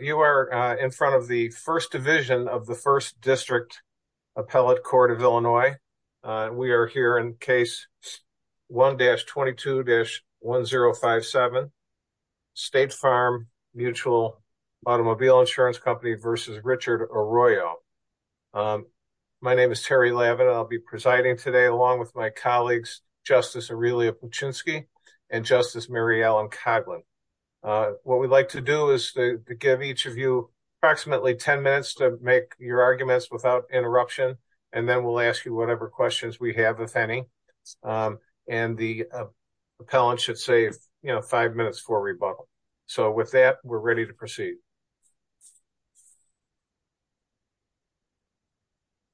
You are in front of the 1st Division of the 1st District Appellate Court of Illinois. We are here in Case 1-22-1057, State Farm Mutual Automobile Insurance Company v. Richard Arroyo. My name is Terry Lavin. I'll be presiding today along with my colleagues, Justice Aurelia Puczynski and Justice Mary Ellen Coughlin. What we'd like to do is to give each of you approximately 10 minutes to make your arguments without interruption, and then we'll ask you whatever questions we have, if any. And the appellant should save, you know, five minutes for rebuttal. So with that, we're ready to proceed.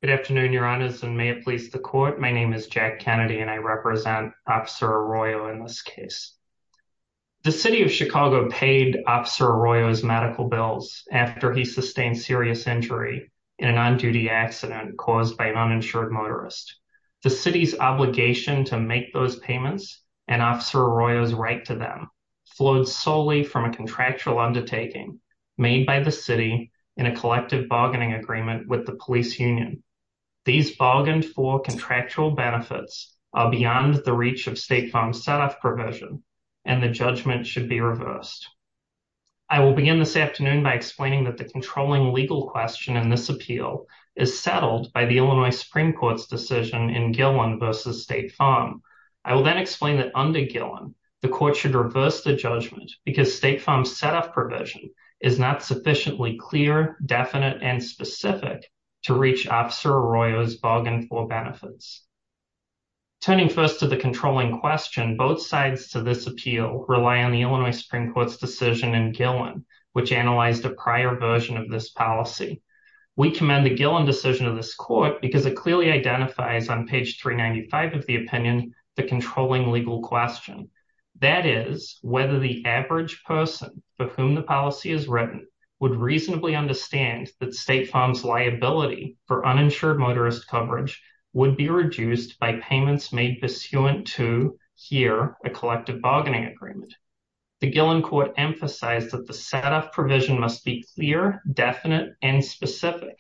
Good afternoon, Your Honors, and may it please the Court. My name is Jack Kennedy, and I represent Officer Arroyo in this case. The City of Chicago paid Officer Arroyo's medical bills after he sustained serious injury in an on-duty accident caused by an uninsured motorist. The City's obligation to make those payments, and Officer Arroyo's right to them, flowed solely from a contractual undertaking made by the City in a collective bargaining agreement with the Police Union. These bargained-for contractual benefits are beyond the reach of State Farm's set-off provision, and the judgment should be reversed. I will begin this afternoon by explaining that the controlling legal question in this appeal is settled by the Illinois Supreme Court's decision in Gillen v. State Farm. I will then explain that under Gillen, the Court should reverse the judgment because State Farm's set-off provision is not sufficiently clear, definite, and specific to reach Officer Arroyo's bargained-for benefits. Turning first to the controlling question, both sides to this appeal rely on the Illinois Supreme Court's decision in Gillen, which analyzed a prior version of this policy. We commend the Gillen decision of this Court because it clearly identifies on page 395 of the opinion the controlling legal question. That is, whether the average person for whom the policy is written would reasonably understand that State Farm's liability for uninsured motorist coverage would be reduced by payments made pursuant to, here, a collective bargaining agreement. The Gillen Court emphasized that the set-off provision must be clear, definite, and specific,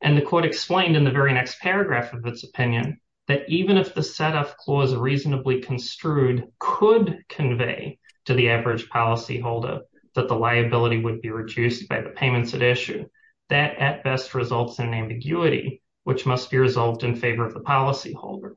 and the Court explained in the very next paragraph of its opinion that even if the set-off clause reasonably construed could convey to the average policyholder that the liability would be reduced by the payments at issue, that at best results in ambiguity, which must be resolved in favor of the policyholder.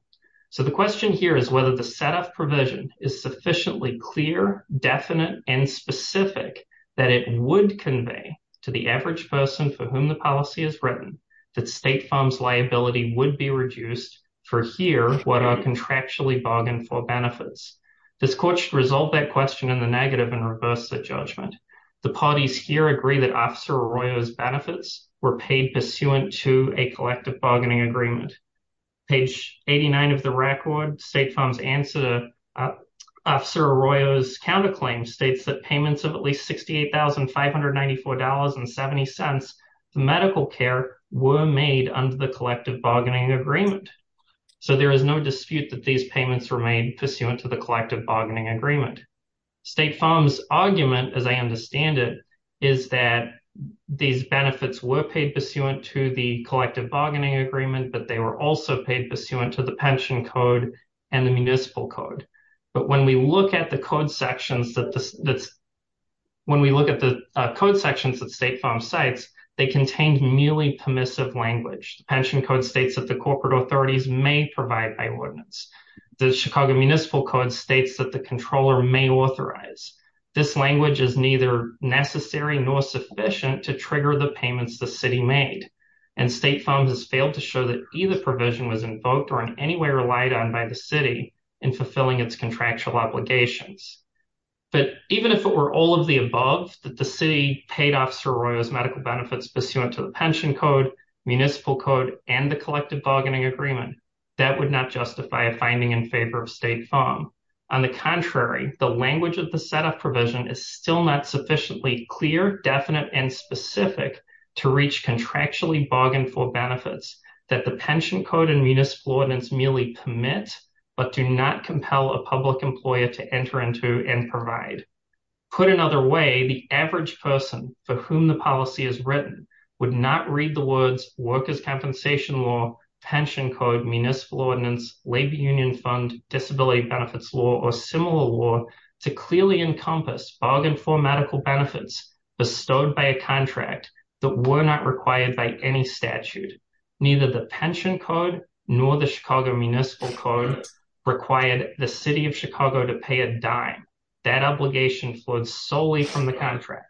So the question here is whether the set-off provision is sufficiently clear, definite, and specific that it would convey to the average person for whom the policy is written that State Farm's liability would be reduced for, here, what are contractually bargained-for benefits. This Court should resolve that question in the negative and reverse the judgment. The parties here agree that Officer Arroyo's benefits were paid pursuant to a collective bargaining agreement. Page 89 of the record, State Farm's answer to Officer Arroyo's counterclaim states that payments of at least $68,594.70 for medical care were made under the collective bargaining agreement. So there is no dispute that these payments were made pursuant to the collective bargaining agreement. State Farm's argument, as I understand it, is that these benefits were paid pursuant to the collective bargaining agreement, but they were also paid pursuant to the pension code and the municipal code. But when we look at the code sections that State Farm cites, they contained merely permissive language. The pension code states that the corporate authorities may provide by ordinance. The Chicago Municipal Code states that the controller may authorize. This language is neither necessary nor sufficient to trigger the payments the city made. And State Farm has failed to show that either provision was invoked or in any way relied on by the city in fulfilling its contractual obligations. But even if it were all of the above, that the city paid Officer Arroyo's medical benefits pursuant to the pension code, municipal code, and the collective bargaining agreement, that would not justify a finding in favor of State Farm. On the contrary, the language of the set-off provision is still not sufficiently clear, definite, and specific to reach contractually bargained-for benefits that the pension code and municipal ordinance merely permit, but do not compel a public employer to enter into and provide. Put another way, the average person for whom the policy is written would not read the words workers' compensation law, pension code, municipal ordinance, labor union fund, disability benefits law, or similar law to clearly encompass bargained-for medical benefits bestowed by a contract that were not required by any statute. Neither the pension code nor the Chicago Municipal Code required the City of Chicago to pay a dime. That obligation flowed solely from the contract.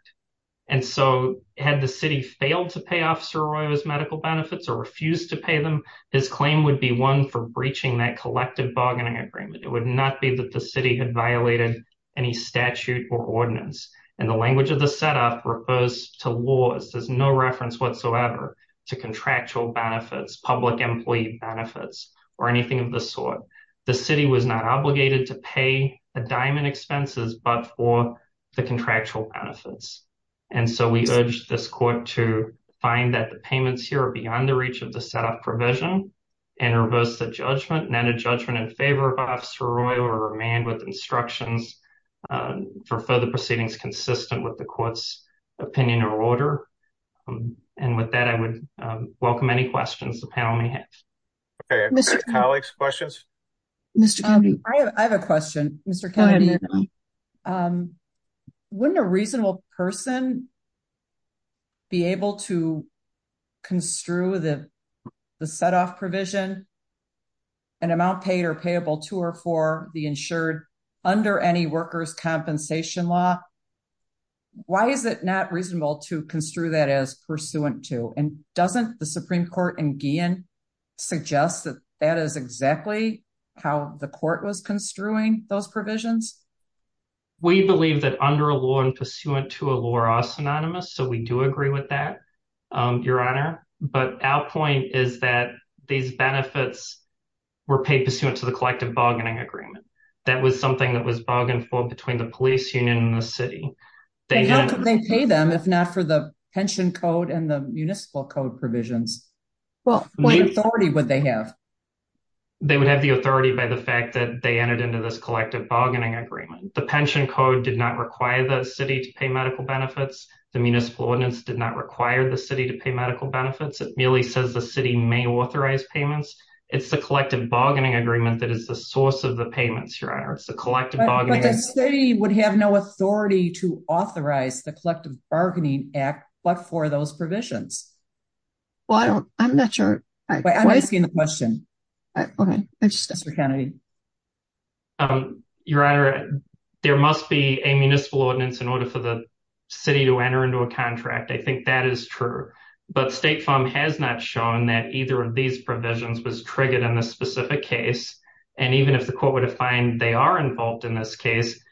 And so, had the city failed to pay Officer Arroyo's medical benefits or refused to pay them, his claim would be one for breaching that collective bargaining agreement. It would not be that the city had violated any statute or ordinance. And the language of the set-off refers to laws. There's no reference whatsoever to contractual benefits, public employee benefits, or anything of the sort. The city was not obligated to pay a dime in expenses but for the contractual benefits. And so, we urge this court to find that the payments here are beyond the reach of the set-off provision and reverse the judgment, and enter judgment in favor of Officer Arroyo or remand with instructions for further proceedings consistent with the court's opinion or order. And with that, I would welcome any questions the panel may have. Okay. Mr. Kennedy? Colleagues, questions? Mr. Kennedy? I have a question. Mr. Kennedy, wouldn't a reasonable person be able to construe the set-off provision, an amount paid or payable to or for the insured under any workers' compensation law? Why is it not reasonable to construe that as pursuant to? And doesn't the Supreme Court in Guillen suggest that that is exactly how the court was construing those provisions? We believe that under a law and pursuant to a law are synonymous, so we do agree with that, Your Honor. But our point is that these benefits were paid pursuant to the collective bargaining agreement. That was something that was bargained for between the police union and the city. How could they pay them if not for the pension code and the municipal code provisions? What authority would they have? They would have the authority by the fact that they entered into this collective bargaining agreement. The pension code did not require the city to pay medical benefits. The municipal ordinance did not require the city to pay medical benefits. It merely says the city may authorize payments. But the city would have no authority to authorize the collective bargaining act but for those provisions. Well, I'm not sure. I'm asking the question. Okay. Your Honor, there must be a municipal ordinance in order for the city to enter into a contract. I think that is true. But State Farm has not shown that either of these provisions was triggered in this specific case. And even if the court were to find they are involved in this case,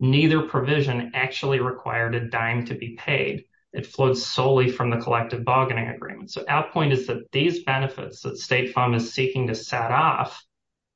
neither provision actually required a dime to be paid. It flows solely from the collective bargaining agreement. So our point is that these benefits that State Farm is seeking to set off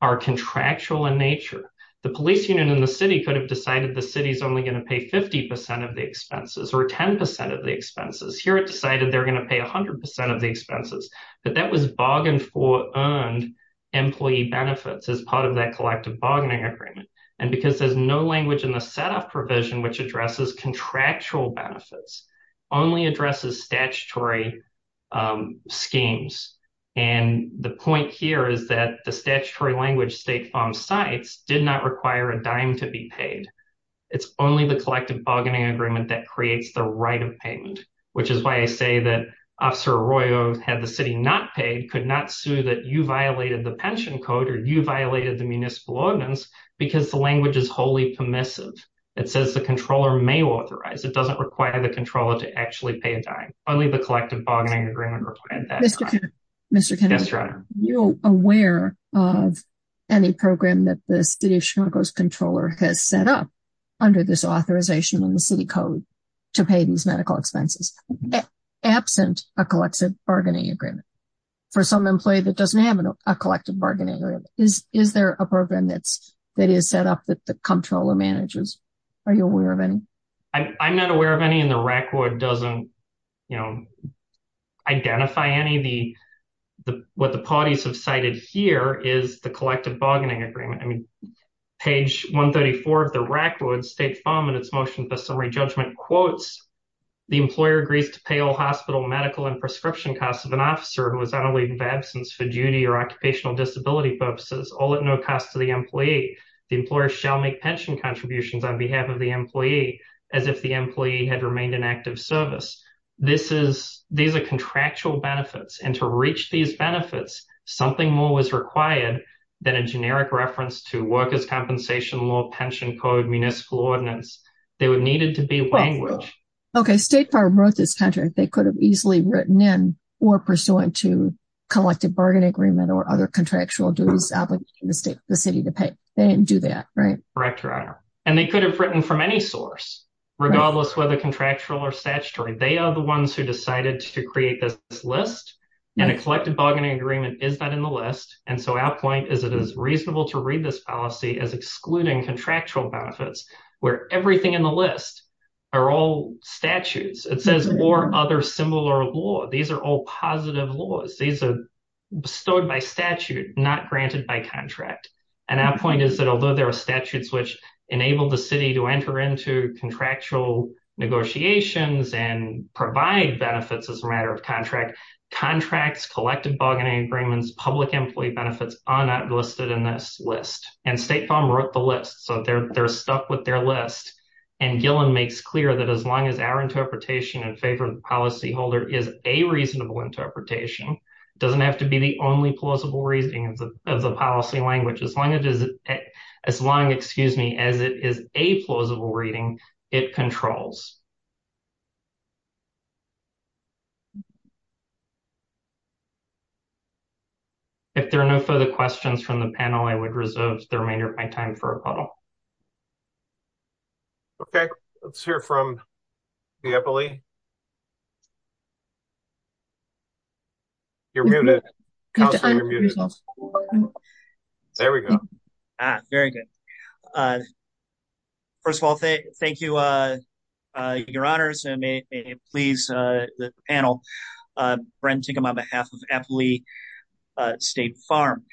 are contractual in nature. The police union and the city could have decided the city is only going to pay 50% of the expenses or 10% of the expenses. Here it decided they're going to pay 100% of the expenses. But that was bargained for earned employee benefits as part of that collective bargaining agreement. And because there's no language in the setup provision which addresses contractual benefits, only addresses statutory schemes. And the point here is that the statutory language State Farm cites did not require a dime to be paid. It's only the collective bargaining agreement that creates the right of payment, which is why I say that Officer Arroyo, had the city not paid, could not sue that you violated the pension code or you violated the municipal ordinance because the language is wholly permissive. It says the controller may authorize. It doesn't require the controller to actually pay a dime. Only the collective bargaining agreement required that. Mr. Kennedy, are you aware of any program that the city of Chicago's controller has set up under this authorization in the city code to pay these medical expenses? Absent a collective bargaining agreement for some employee that doesn't have a collective bargaining agreement. Is there a program that is set up that the controller manages? Are you aware of any? I'm not aware of any in the RAC would doesn't, you know, identify any of the what the parties have cited here is the collective bargaining agreement. I mean, page 134 of the RAC would State Farm and its motion for summary judgment quotes, the employer agrees to pay all hospital, medical and prescription costs of an officer who is unrelated to absence for duty or occupational disability purposes, all at no cost to the employee. The employer shall make pension contributions on behalf of the employee as if the employee had remained in active service. This is these are contractual benefits and to reach these benefits. Something more was required than a generic reference to workers' compensation law, pension code, municipal ordinance. They would needed to be language. Okay, State Farm wrote this contract. They could have easily written in or pursuant to collective bargaining agreement or other contractual dues, the city to pay. They didn't do that, right? Correct, Your Honor. And they could have written from any source, regardless whether contractual or statutory. They are the ones who decided to create this list and a collective bargaining agreement is not in the list. And so our point is it is reasonable to read this policy as excluding contractual benefits where everything in the list are all statutes. It says or other similar law. These are all positive laws. These are bestowed by statute, not granted by contract. And our point is that although there are statutes which enable the city to enter into contractual negotiations and provide benefits as a matter of contract, contracts, collective bargaining agreements, public employee benefits are not listed in this list. And State Farm wrote the list. So they're stuck with their list. And Gillen makes clear that as long as our interpretation in favor of the policyholder is a reasonable interpretation, it doesn't have to be the only plausible reasoning of the policy language. As long as it is a plausible reading, it controls. If there are no further questions from the panel, I would reserve the remainder of my time for a call. OK, let's hear from the Eppley. You're muted. There we go. Very good. First of all, thank you, your honors. And please, the panel. Brent Tickham on behalf of Eppley State Farm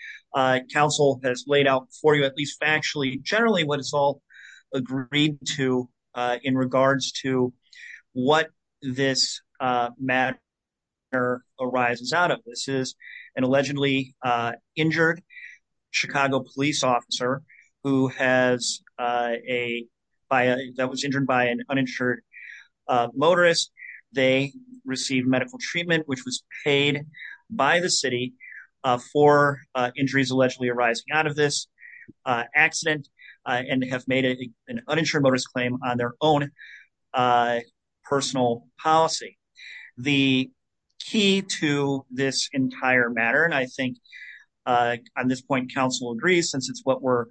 Council has laid out for you, at least generally, what it's all agreed to in regards to what this matter arises out of. This is an allegedly injured Chicago police officer that was injured by an uninsured motorist. They received medical treatment, which was paid by the city for injuries allegedly arising out of this accident, and they have made an uninsured motorist claim on their own personal policy. The key to this entire matter, and I think on this point, council agrees, since it's what we've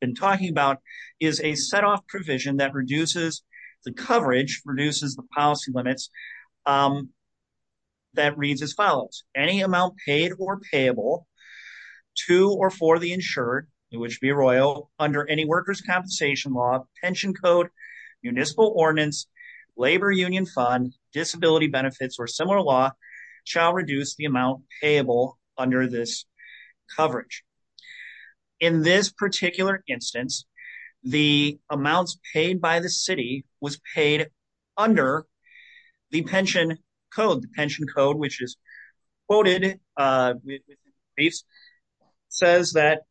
been talking about, is a set-off provision that reduces the coverage, reduces the policy limits, that reads as follows. Any amount paid or payable to or for the insured, in which be royal, under any workers' compensation law, pension code, municipal ordinance, labor union fund, disability benefits, or similar law, shall reduce the amount payable under this coverage. In this particular instance, the amounts paid by the city was paid under the pension code, which is quoted, says that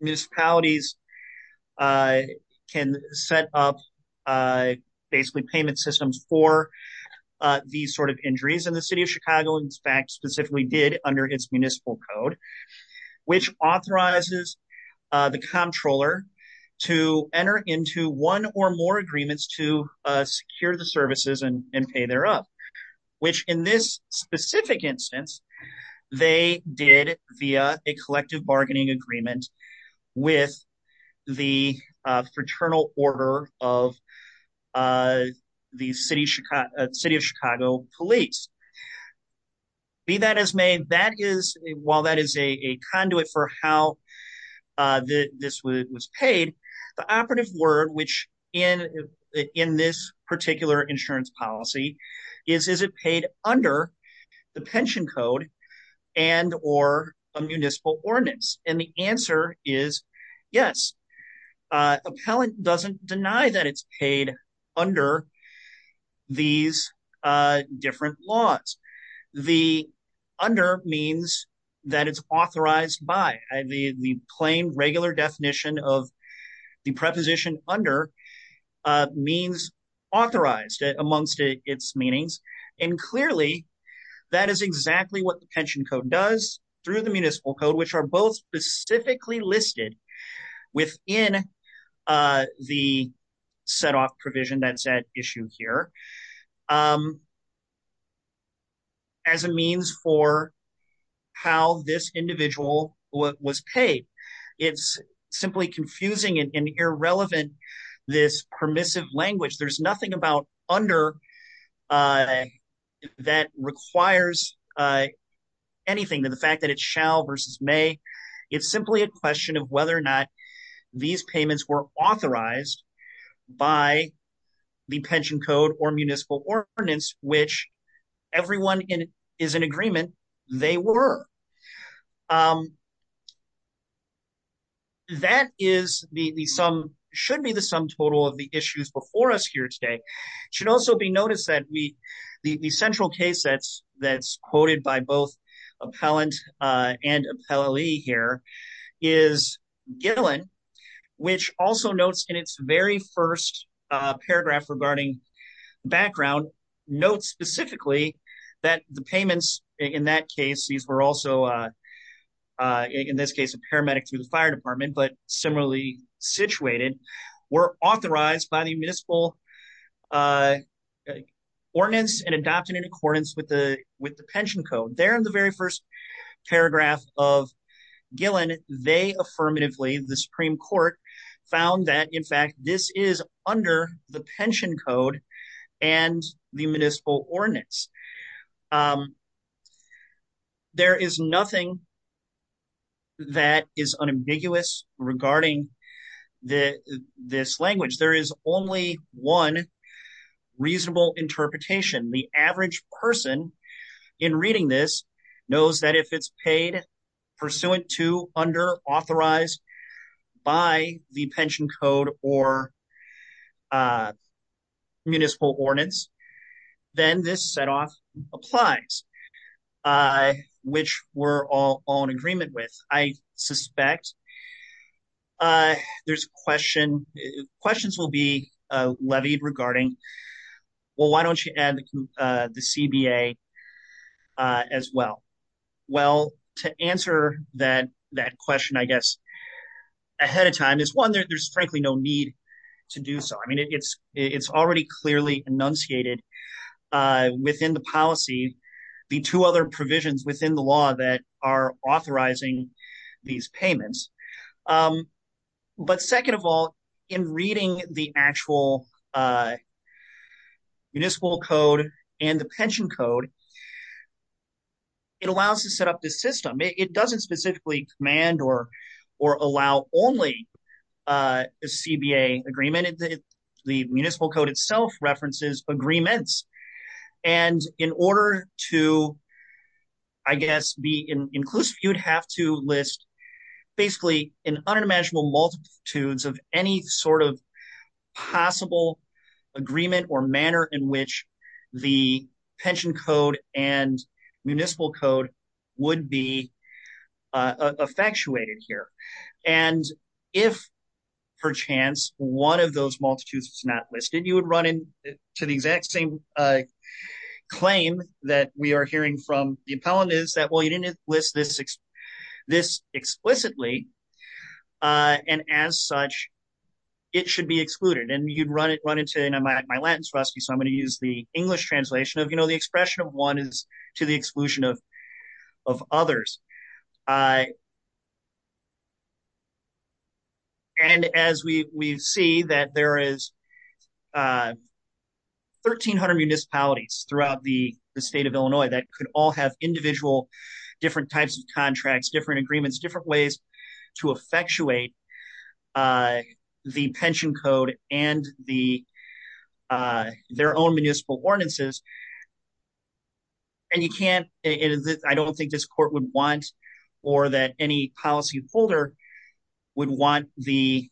municipalities can set up payment systems for these sort of injuries, and the city of Chicago, in fact, specifically did under its municipal code, which authorizes the comptroller to enter into one or more agreements to secure the pay thereof, which in this specific instance, they did via a collective bargaining agreement with the fraternal order of the city of Chicago police. Be that as may, that is, while that is a conduit for how this was paid, the operative word, which in this particular insurance policy, is, is it paid under the pension code and or a municipal ordinance? And the answer is yes. Appellant doesn't deny that it's paid under these different laws. The under means that it's authorized by the plain regular definition of the preposition under means authorized amongst its meanings. And clearly, that is exactly what the pension code does through the municipal code, which are both specifically listed within the set off provision that's at issue here. As a means for how this individual was paid. It's simply confusing and irrelevant. This permissive language, there's nothing about under that requires anything to the fact that it shall versus may. It's simply a question of whether or not these payments were authorized by the pension code or municipal ordinance, which everyone is in agreement, they were. That is the sum, should be the sum total of the issues before us here today. Should also be noticed that the central case that's quoted by both appellant and appellee here is Gillen, which also notes in its very first paragraph regarding background notes specifically that the payments in that case, these were also in this case, a paramedic through the fire department, but similarly situated were authorized by the municipal ordinance and adopted in accordance with the with the pension code there in the very first paragraph of Gillen, they affirmatively the Supreme Court found that in fact this is under the pension code and the municipal ordinance. There is nothing that is unambiguous regarding this language. There is only one reasonable interpretation. The average person in reading this knows that if it's paid pursuant to under authorized by the pension code or. Municipal ordinance. Then this set off applies. Which we're all on agreement with, I suspect. There's question questions will be levied regarding. Well, why don't you add the CBA as well? Well, to answer that that question, I guess. Ahead of time is one that there's frankly no need to do so. I mean, it's it's already clearly enunciated within the policy. The two other provisions within the law that are authorizing these payments. But second of all, in reading the actual. Municipal code and the pension code. It allows us to set up this system. It doesn't specifically command or or allow only a CBA agreement. The municipal code itself references agreements. And in order to. I guess be inclusive, you'd have to list. Basically, an unimaginable multitudes of any sort of. Possible agreement or manner in which the pension code and municipal code would be. effectuated here and if. Perchance one of those multitudes is not listed, you would run into the exact same. Claim that we are hearing from the appellant is that, well, you didn't list this. This explicitly and as such. It should be excluded and you'd run it run into my lens rusty. So I'm going to use the English translation of the expression of one is to the exclusion of. Of others. And as we see that there is. 1300 municipalities throughout the state of Illinois that could all have individual different types of contracts, different agreements, different ways to effectuate. The pension code and the. Their own municipal ordinances. And you can't I don't think this court would want or that any policy holder. Would want the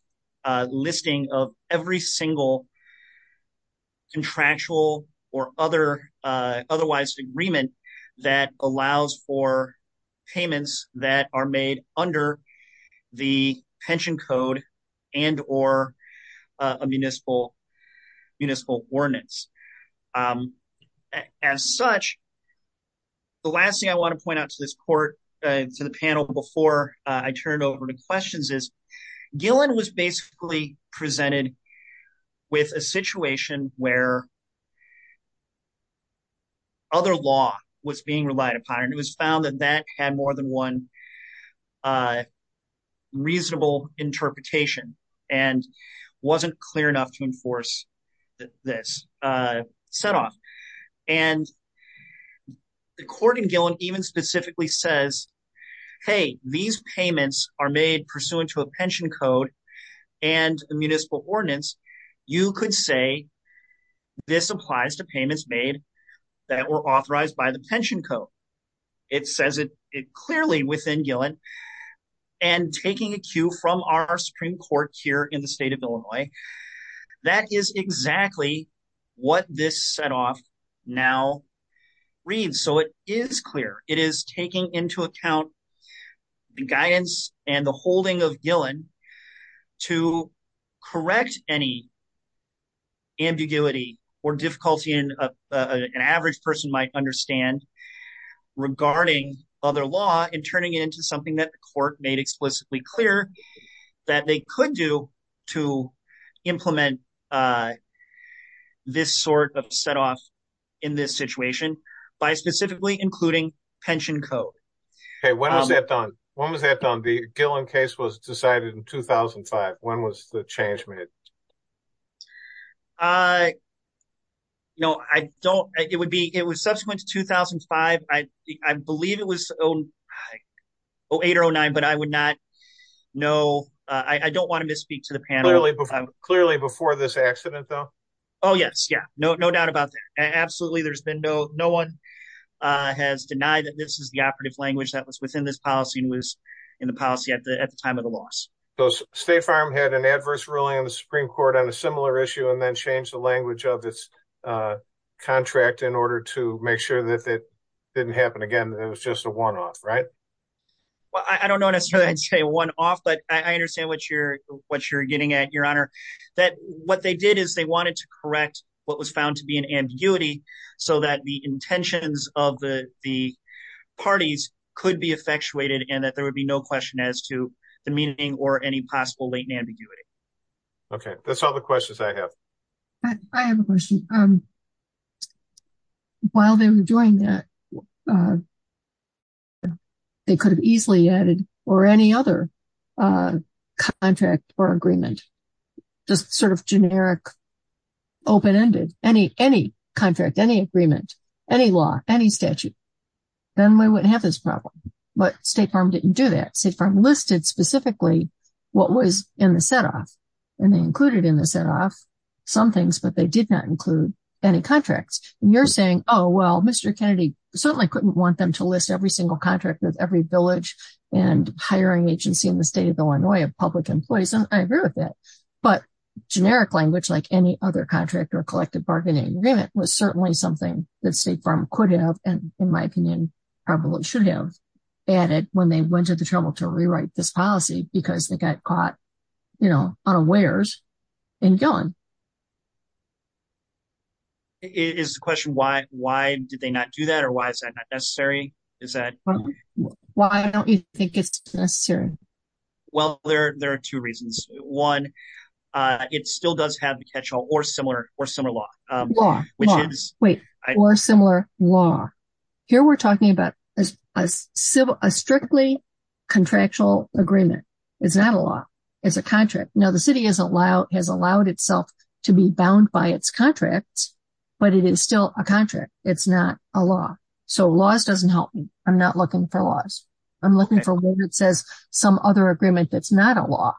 listing of every single. contractual or other otherwise agreement that allows for payments that are made under. The pension code and or a municipal municipal ordinance. As such. The last thing I want to point out to this court to the panel before I turn over to questions is. Gillen was basically presented with a situation where. Other law was being relied upon and it was found that that had more than one. Reasonable interpretation and wasn't clear enough to enforce this set off and. The court in Gillen even specifically says. Hey, these payments are made pursuant to a pension code and municipal ordinance, you could say. This applies to payments made that were authorized by the pension code. It says it clearly within Gillen. And taking a cue from our Supreme Court here in the state of Illinois. That is exactly what this set off now. Read so it is clear it is taking into account. The guidance and the holding of Gillen to correct any. Ambiguity or difficulty in an average person might understand. Regarding other law and turning it into something that the court made explicitly clear. That they could do to implement. This sort of set off in this situation by specifically including pension code. Hey, when was that done? When was that done? The Gillen case was decided in 2005. When was the change made? I know I don't. It would be. It was subsequent to 2005. I believe it was. 08 or 09, but I would not know. I don't want to misspeak to the panel. Clearly before this accident, though. Oh, yes, yeah, no doubt about that. Absolutely. There's been no no one. Has denied that this is the operative language that was within this policy and was in the policy at the at the time of the loss. So State Farm had an adverse ruling on the Supreme Court on a similar issue and then of this contract in order to make sure that that didn't happen again. It was just a one off, right? Well, I don't know necessarily. I'd say one off, but I understand what you're what you're getting at your honor that what they did is they wanted to correct what was found to be an ambiguity so that the intentions of the parties could be effectuated and that there would be no question as to the meaning or any possible latent ambiguity. OK, that's all the questions I have. I have a question. While they were doing that. They could have easily added or any other contract or agreement, just sort of generic. Open ended any any contract, any agreement, any law, any statute, then we wouldn't have this problem. But State Farm didn't do that. State Farm listed specifically what was in the set off and they included in the set off some things, but they did not include any contracts. And you're saying, oh, well, Mr. Kennedy certainly couldn't want them to list every single contract with every village and hiring agency in the state of Illinois of public employees. And I agree with that. But generic language like any other contract or collective bargaining agreement was certainly something that State Farm could have, and in my opinion, probably should have added when they went to the trouble to rewrite this policy because they got caught, you know, on a wares and gone. It is a question why why did they not do that or why is that necessary? Is that why don't you think it's necessary? Well, there are two reasons. One, it still does have the catch all or similar or similar law, which is wait, or similar law here. We're talking about a civil, a strictly contractual agreement. It's not a law. It's a contract. Now, the city is allowed has allowed itself to be bound by its contract, but it is still a contract. It's not a law. So laws doesn't help me. I'm not looking for laws. I'm looking for one that says some other agreement that's not a law.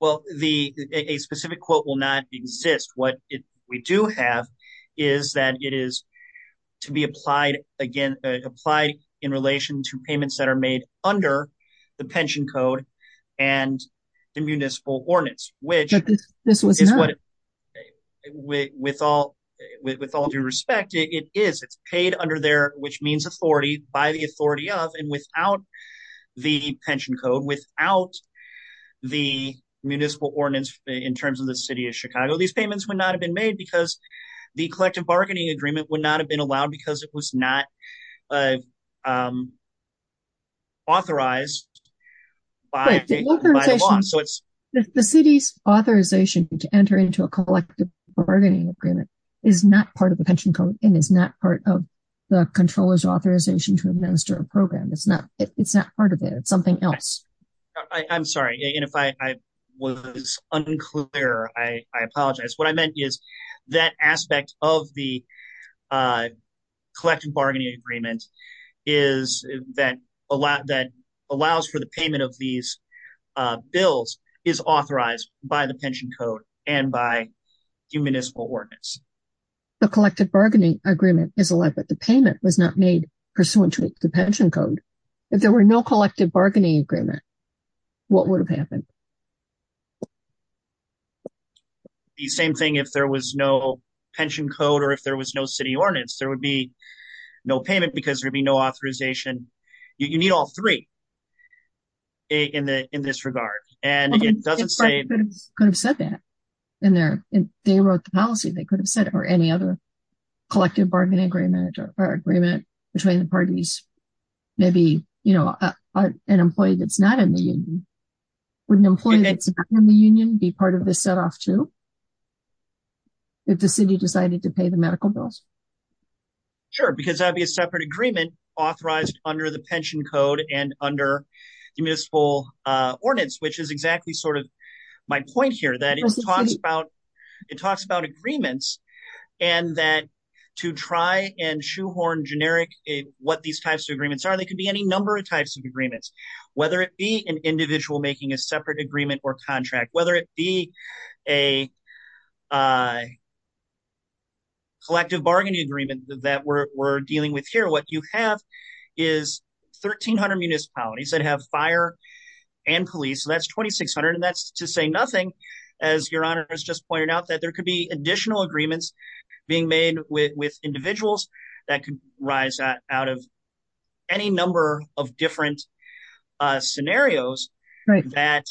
Well, the a specific quote will not exist. What we do have is that it is to be applied again, applied in relation to payments that are made under the pension code and the municipal ordinance, which is what it with all with all due respect, it is it's paid under there, which means authority by the authority of and without the pension code, without the municipal ordinance in terms of the city of Chicago. These payments would not have been made because the collective bargaining agreement would have been allowed because it was not authorized by the law. So it's the city's authorization to enter into a collective bargaining agreement is not part of the pension code and is not part of the controller's authorization to administer a program. It's not it's not part of it. It's something else. I'm sorry. And if I was unclear, I apologize. What I meant is that aspect of the collective bargaining agreement is that that allows for the payment of these bills is authorized by the pension code and by municipal ordinance. The collective bargaining agreement is allowed, but the payment was not made pursuant to the pension code. If there were no collective bargaining agreement, what would have happened? The same thing, if there was no pension code or if there was no city ordinance, there would be no payment because there'd be no authorization. You need all three in this regard. And it doesn't say could have said that in there. They wrote the policy. They could have said or any other collective bargaining agreement or agreement between the parties. Maybe, you know, an employee that's not in the union, an employee that's in the union be part of this set off to. If the city decided to pay the medical bills. Sure, because that'd be a separate agreement authorized under the pension code and under the municipal ordinance, which is exactly sort of my point here that it talks about agreements and that to try and shoehorn generic what these types of agreements are. They could be any number of types of agreements, whether it be an individual making a separate agreement or contract, whether it be a. Collective bargaining agreement that we're dealing with here, what you have is 1300 municipalities that have fire and police, that's 2600, and that's to say nothing as your honor has just pointed out that there could be additional agreements being made with individuals that could rise out of any number of different scenarios that.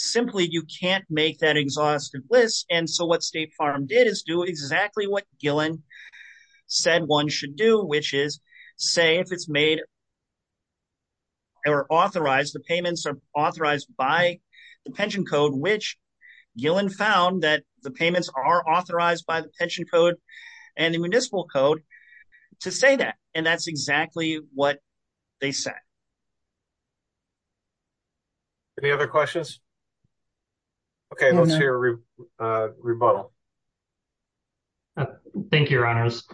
Simply, you can't make that exhaustive list. And so what State Farm did is do exactly what Gillen said one should do, which is say if made. They were authorized the payments are authorized by the pension code, which Gillen found that the payments are authorized by the pension code and the municipal code to say that, and that's exactly what they said. Any other questions. OK, let's hear a rebuttal. Thank you, your honors.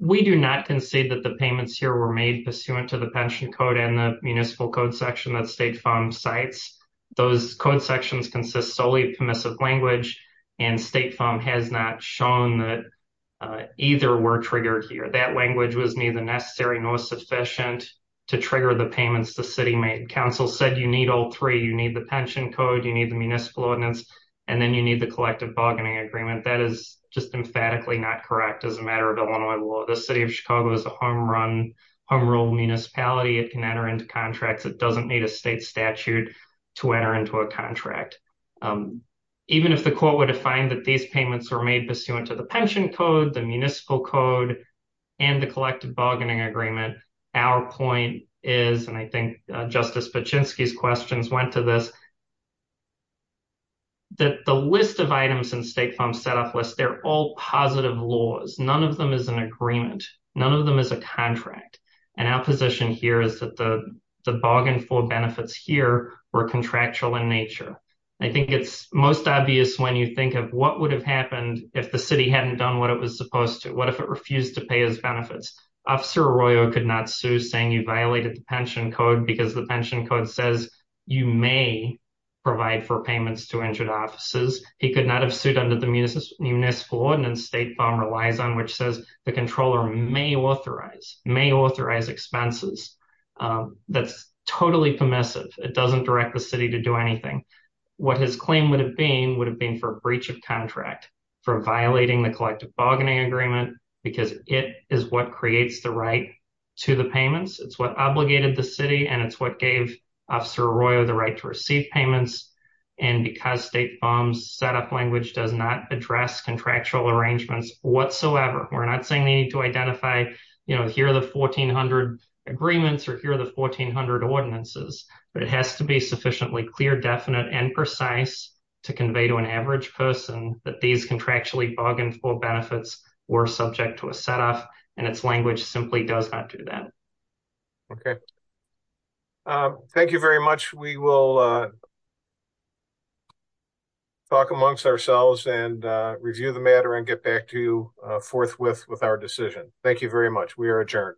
We do not concede that the payments here were made pursuant to the pension code and the municipal code section that State Farm sites those code sections consists solely permissive language and State Farm has not shown that either were triggered here that language was neither necessary nor sufficient to trigger the payments the city made council said you need all three you need the pension code you need the municipal ordinance and then you the collective bargaining agreement that is just emphatically not correct as a matter of Illinois law the city of Chicago is a home run home rule municipality it can enter into contracts it doesn't need a state statute to enter into a contract. Even if the court were to find that these payments were made pursuant to the pension code the municipal code and the collective bargaining agreement. Our point is, and I think Justice Pachinksi questions went to this. That the list of items in State Farm set off list they're all positive laws, none of them is an agreement, none of them is a contract, and our position here is that the bargain for benefits here were contractual in nature. I think it's most obvious when you think of what would have happened if the city hadn't done what it was supposed to what if it refused to pay his benefits. Officer Arroyo could not sue saying you violated the pension code because the pension code says you may provide for payments to injured officers. He could not have sued under the municipal ordinance State Farm relies on which says the controller may authorize may authorize expenses. That's totally permissive. It doesn't direct the city to do anything. What his claim would have been would have been for breach of contract for violating the collective bargaining agreement, because it is what creates the right to the payments it's what obligated the city and it's what gave Officer Arroyo the right to receive payments. And because State Farm's set up language does not address contractual arrangements, whatsoever. We're not saying they need to identify, you know, here are the 1400 agreements or here are the 1400 ordinances, but it has to be sufficiently clear definite and precise to convey to an average person that these contractually bargained for benefits were subject to a setup and its language simply does not do that. Okay. Thank you very much. We will talk amongst ourselves and review the matter and get back to you forthwith with our decision. Thank you very much. We are adjourned.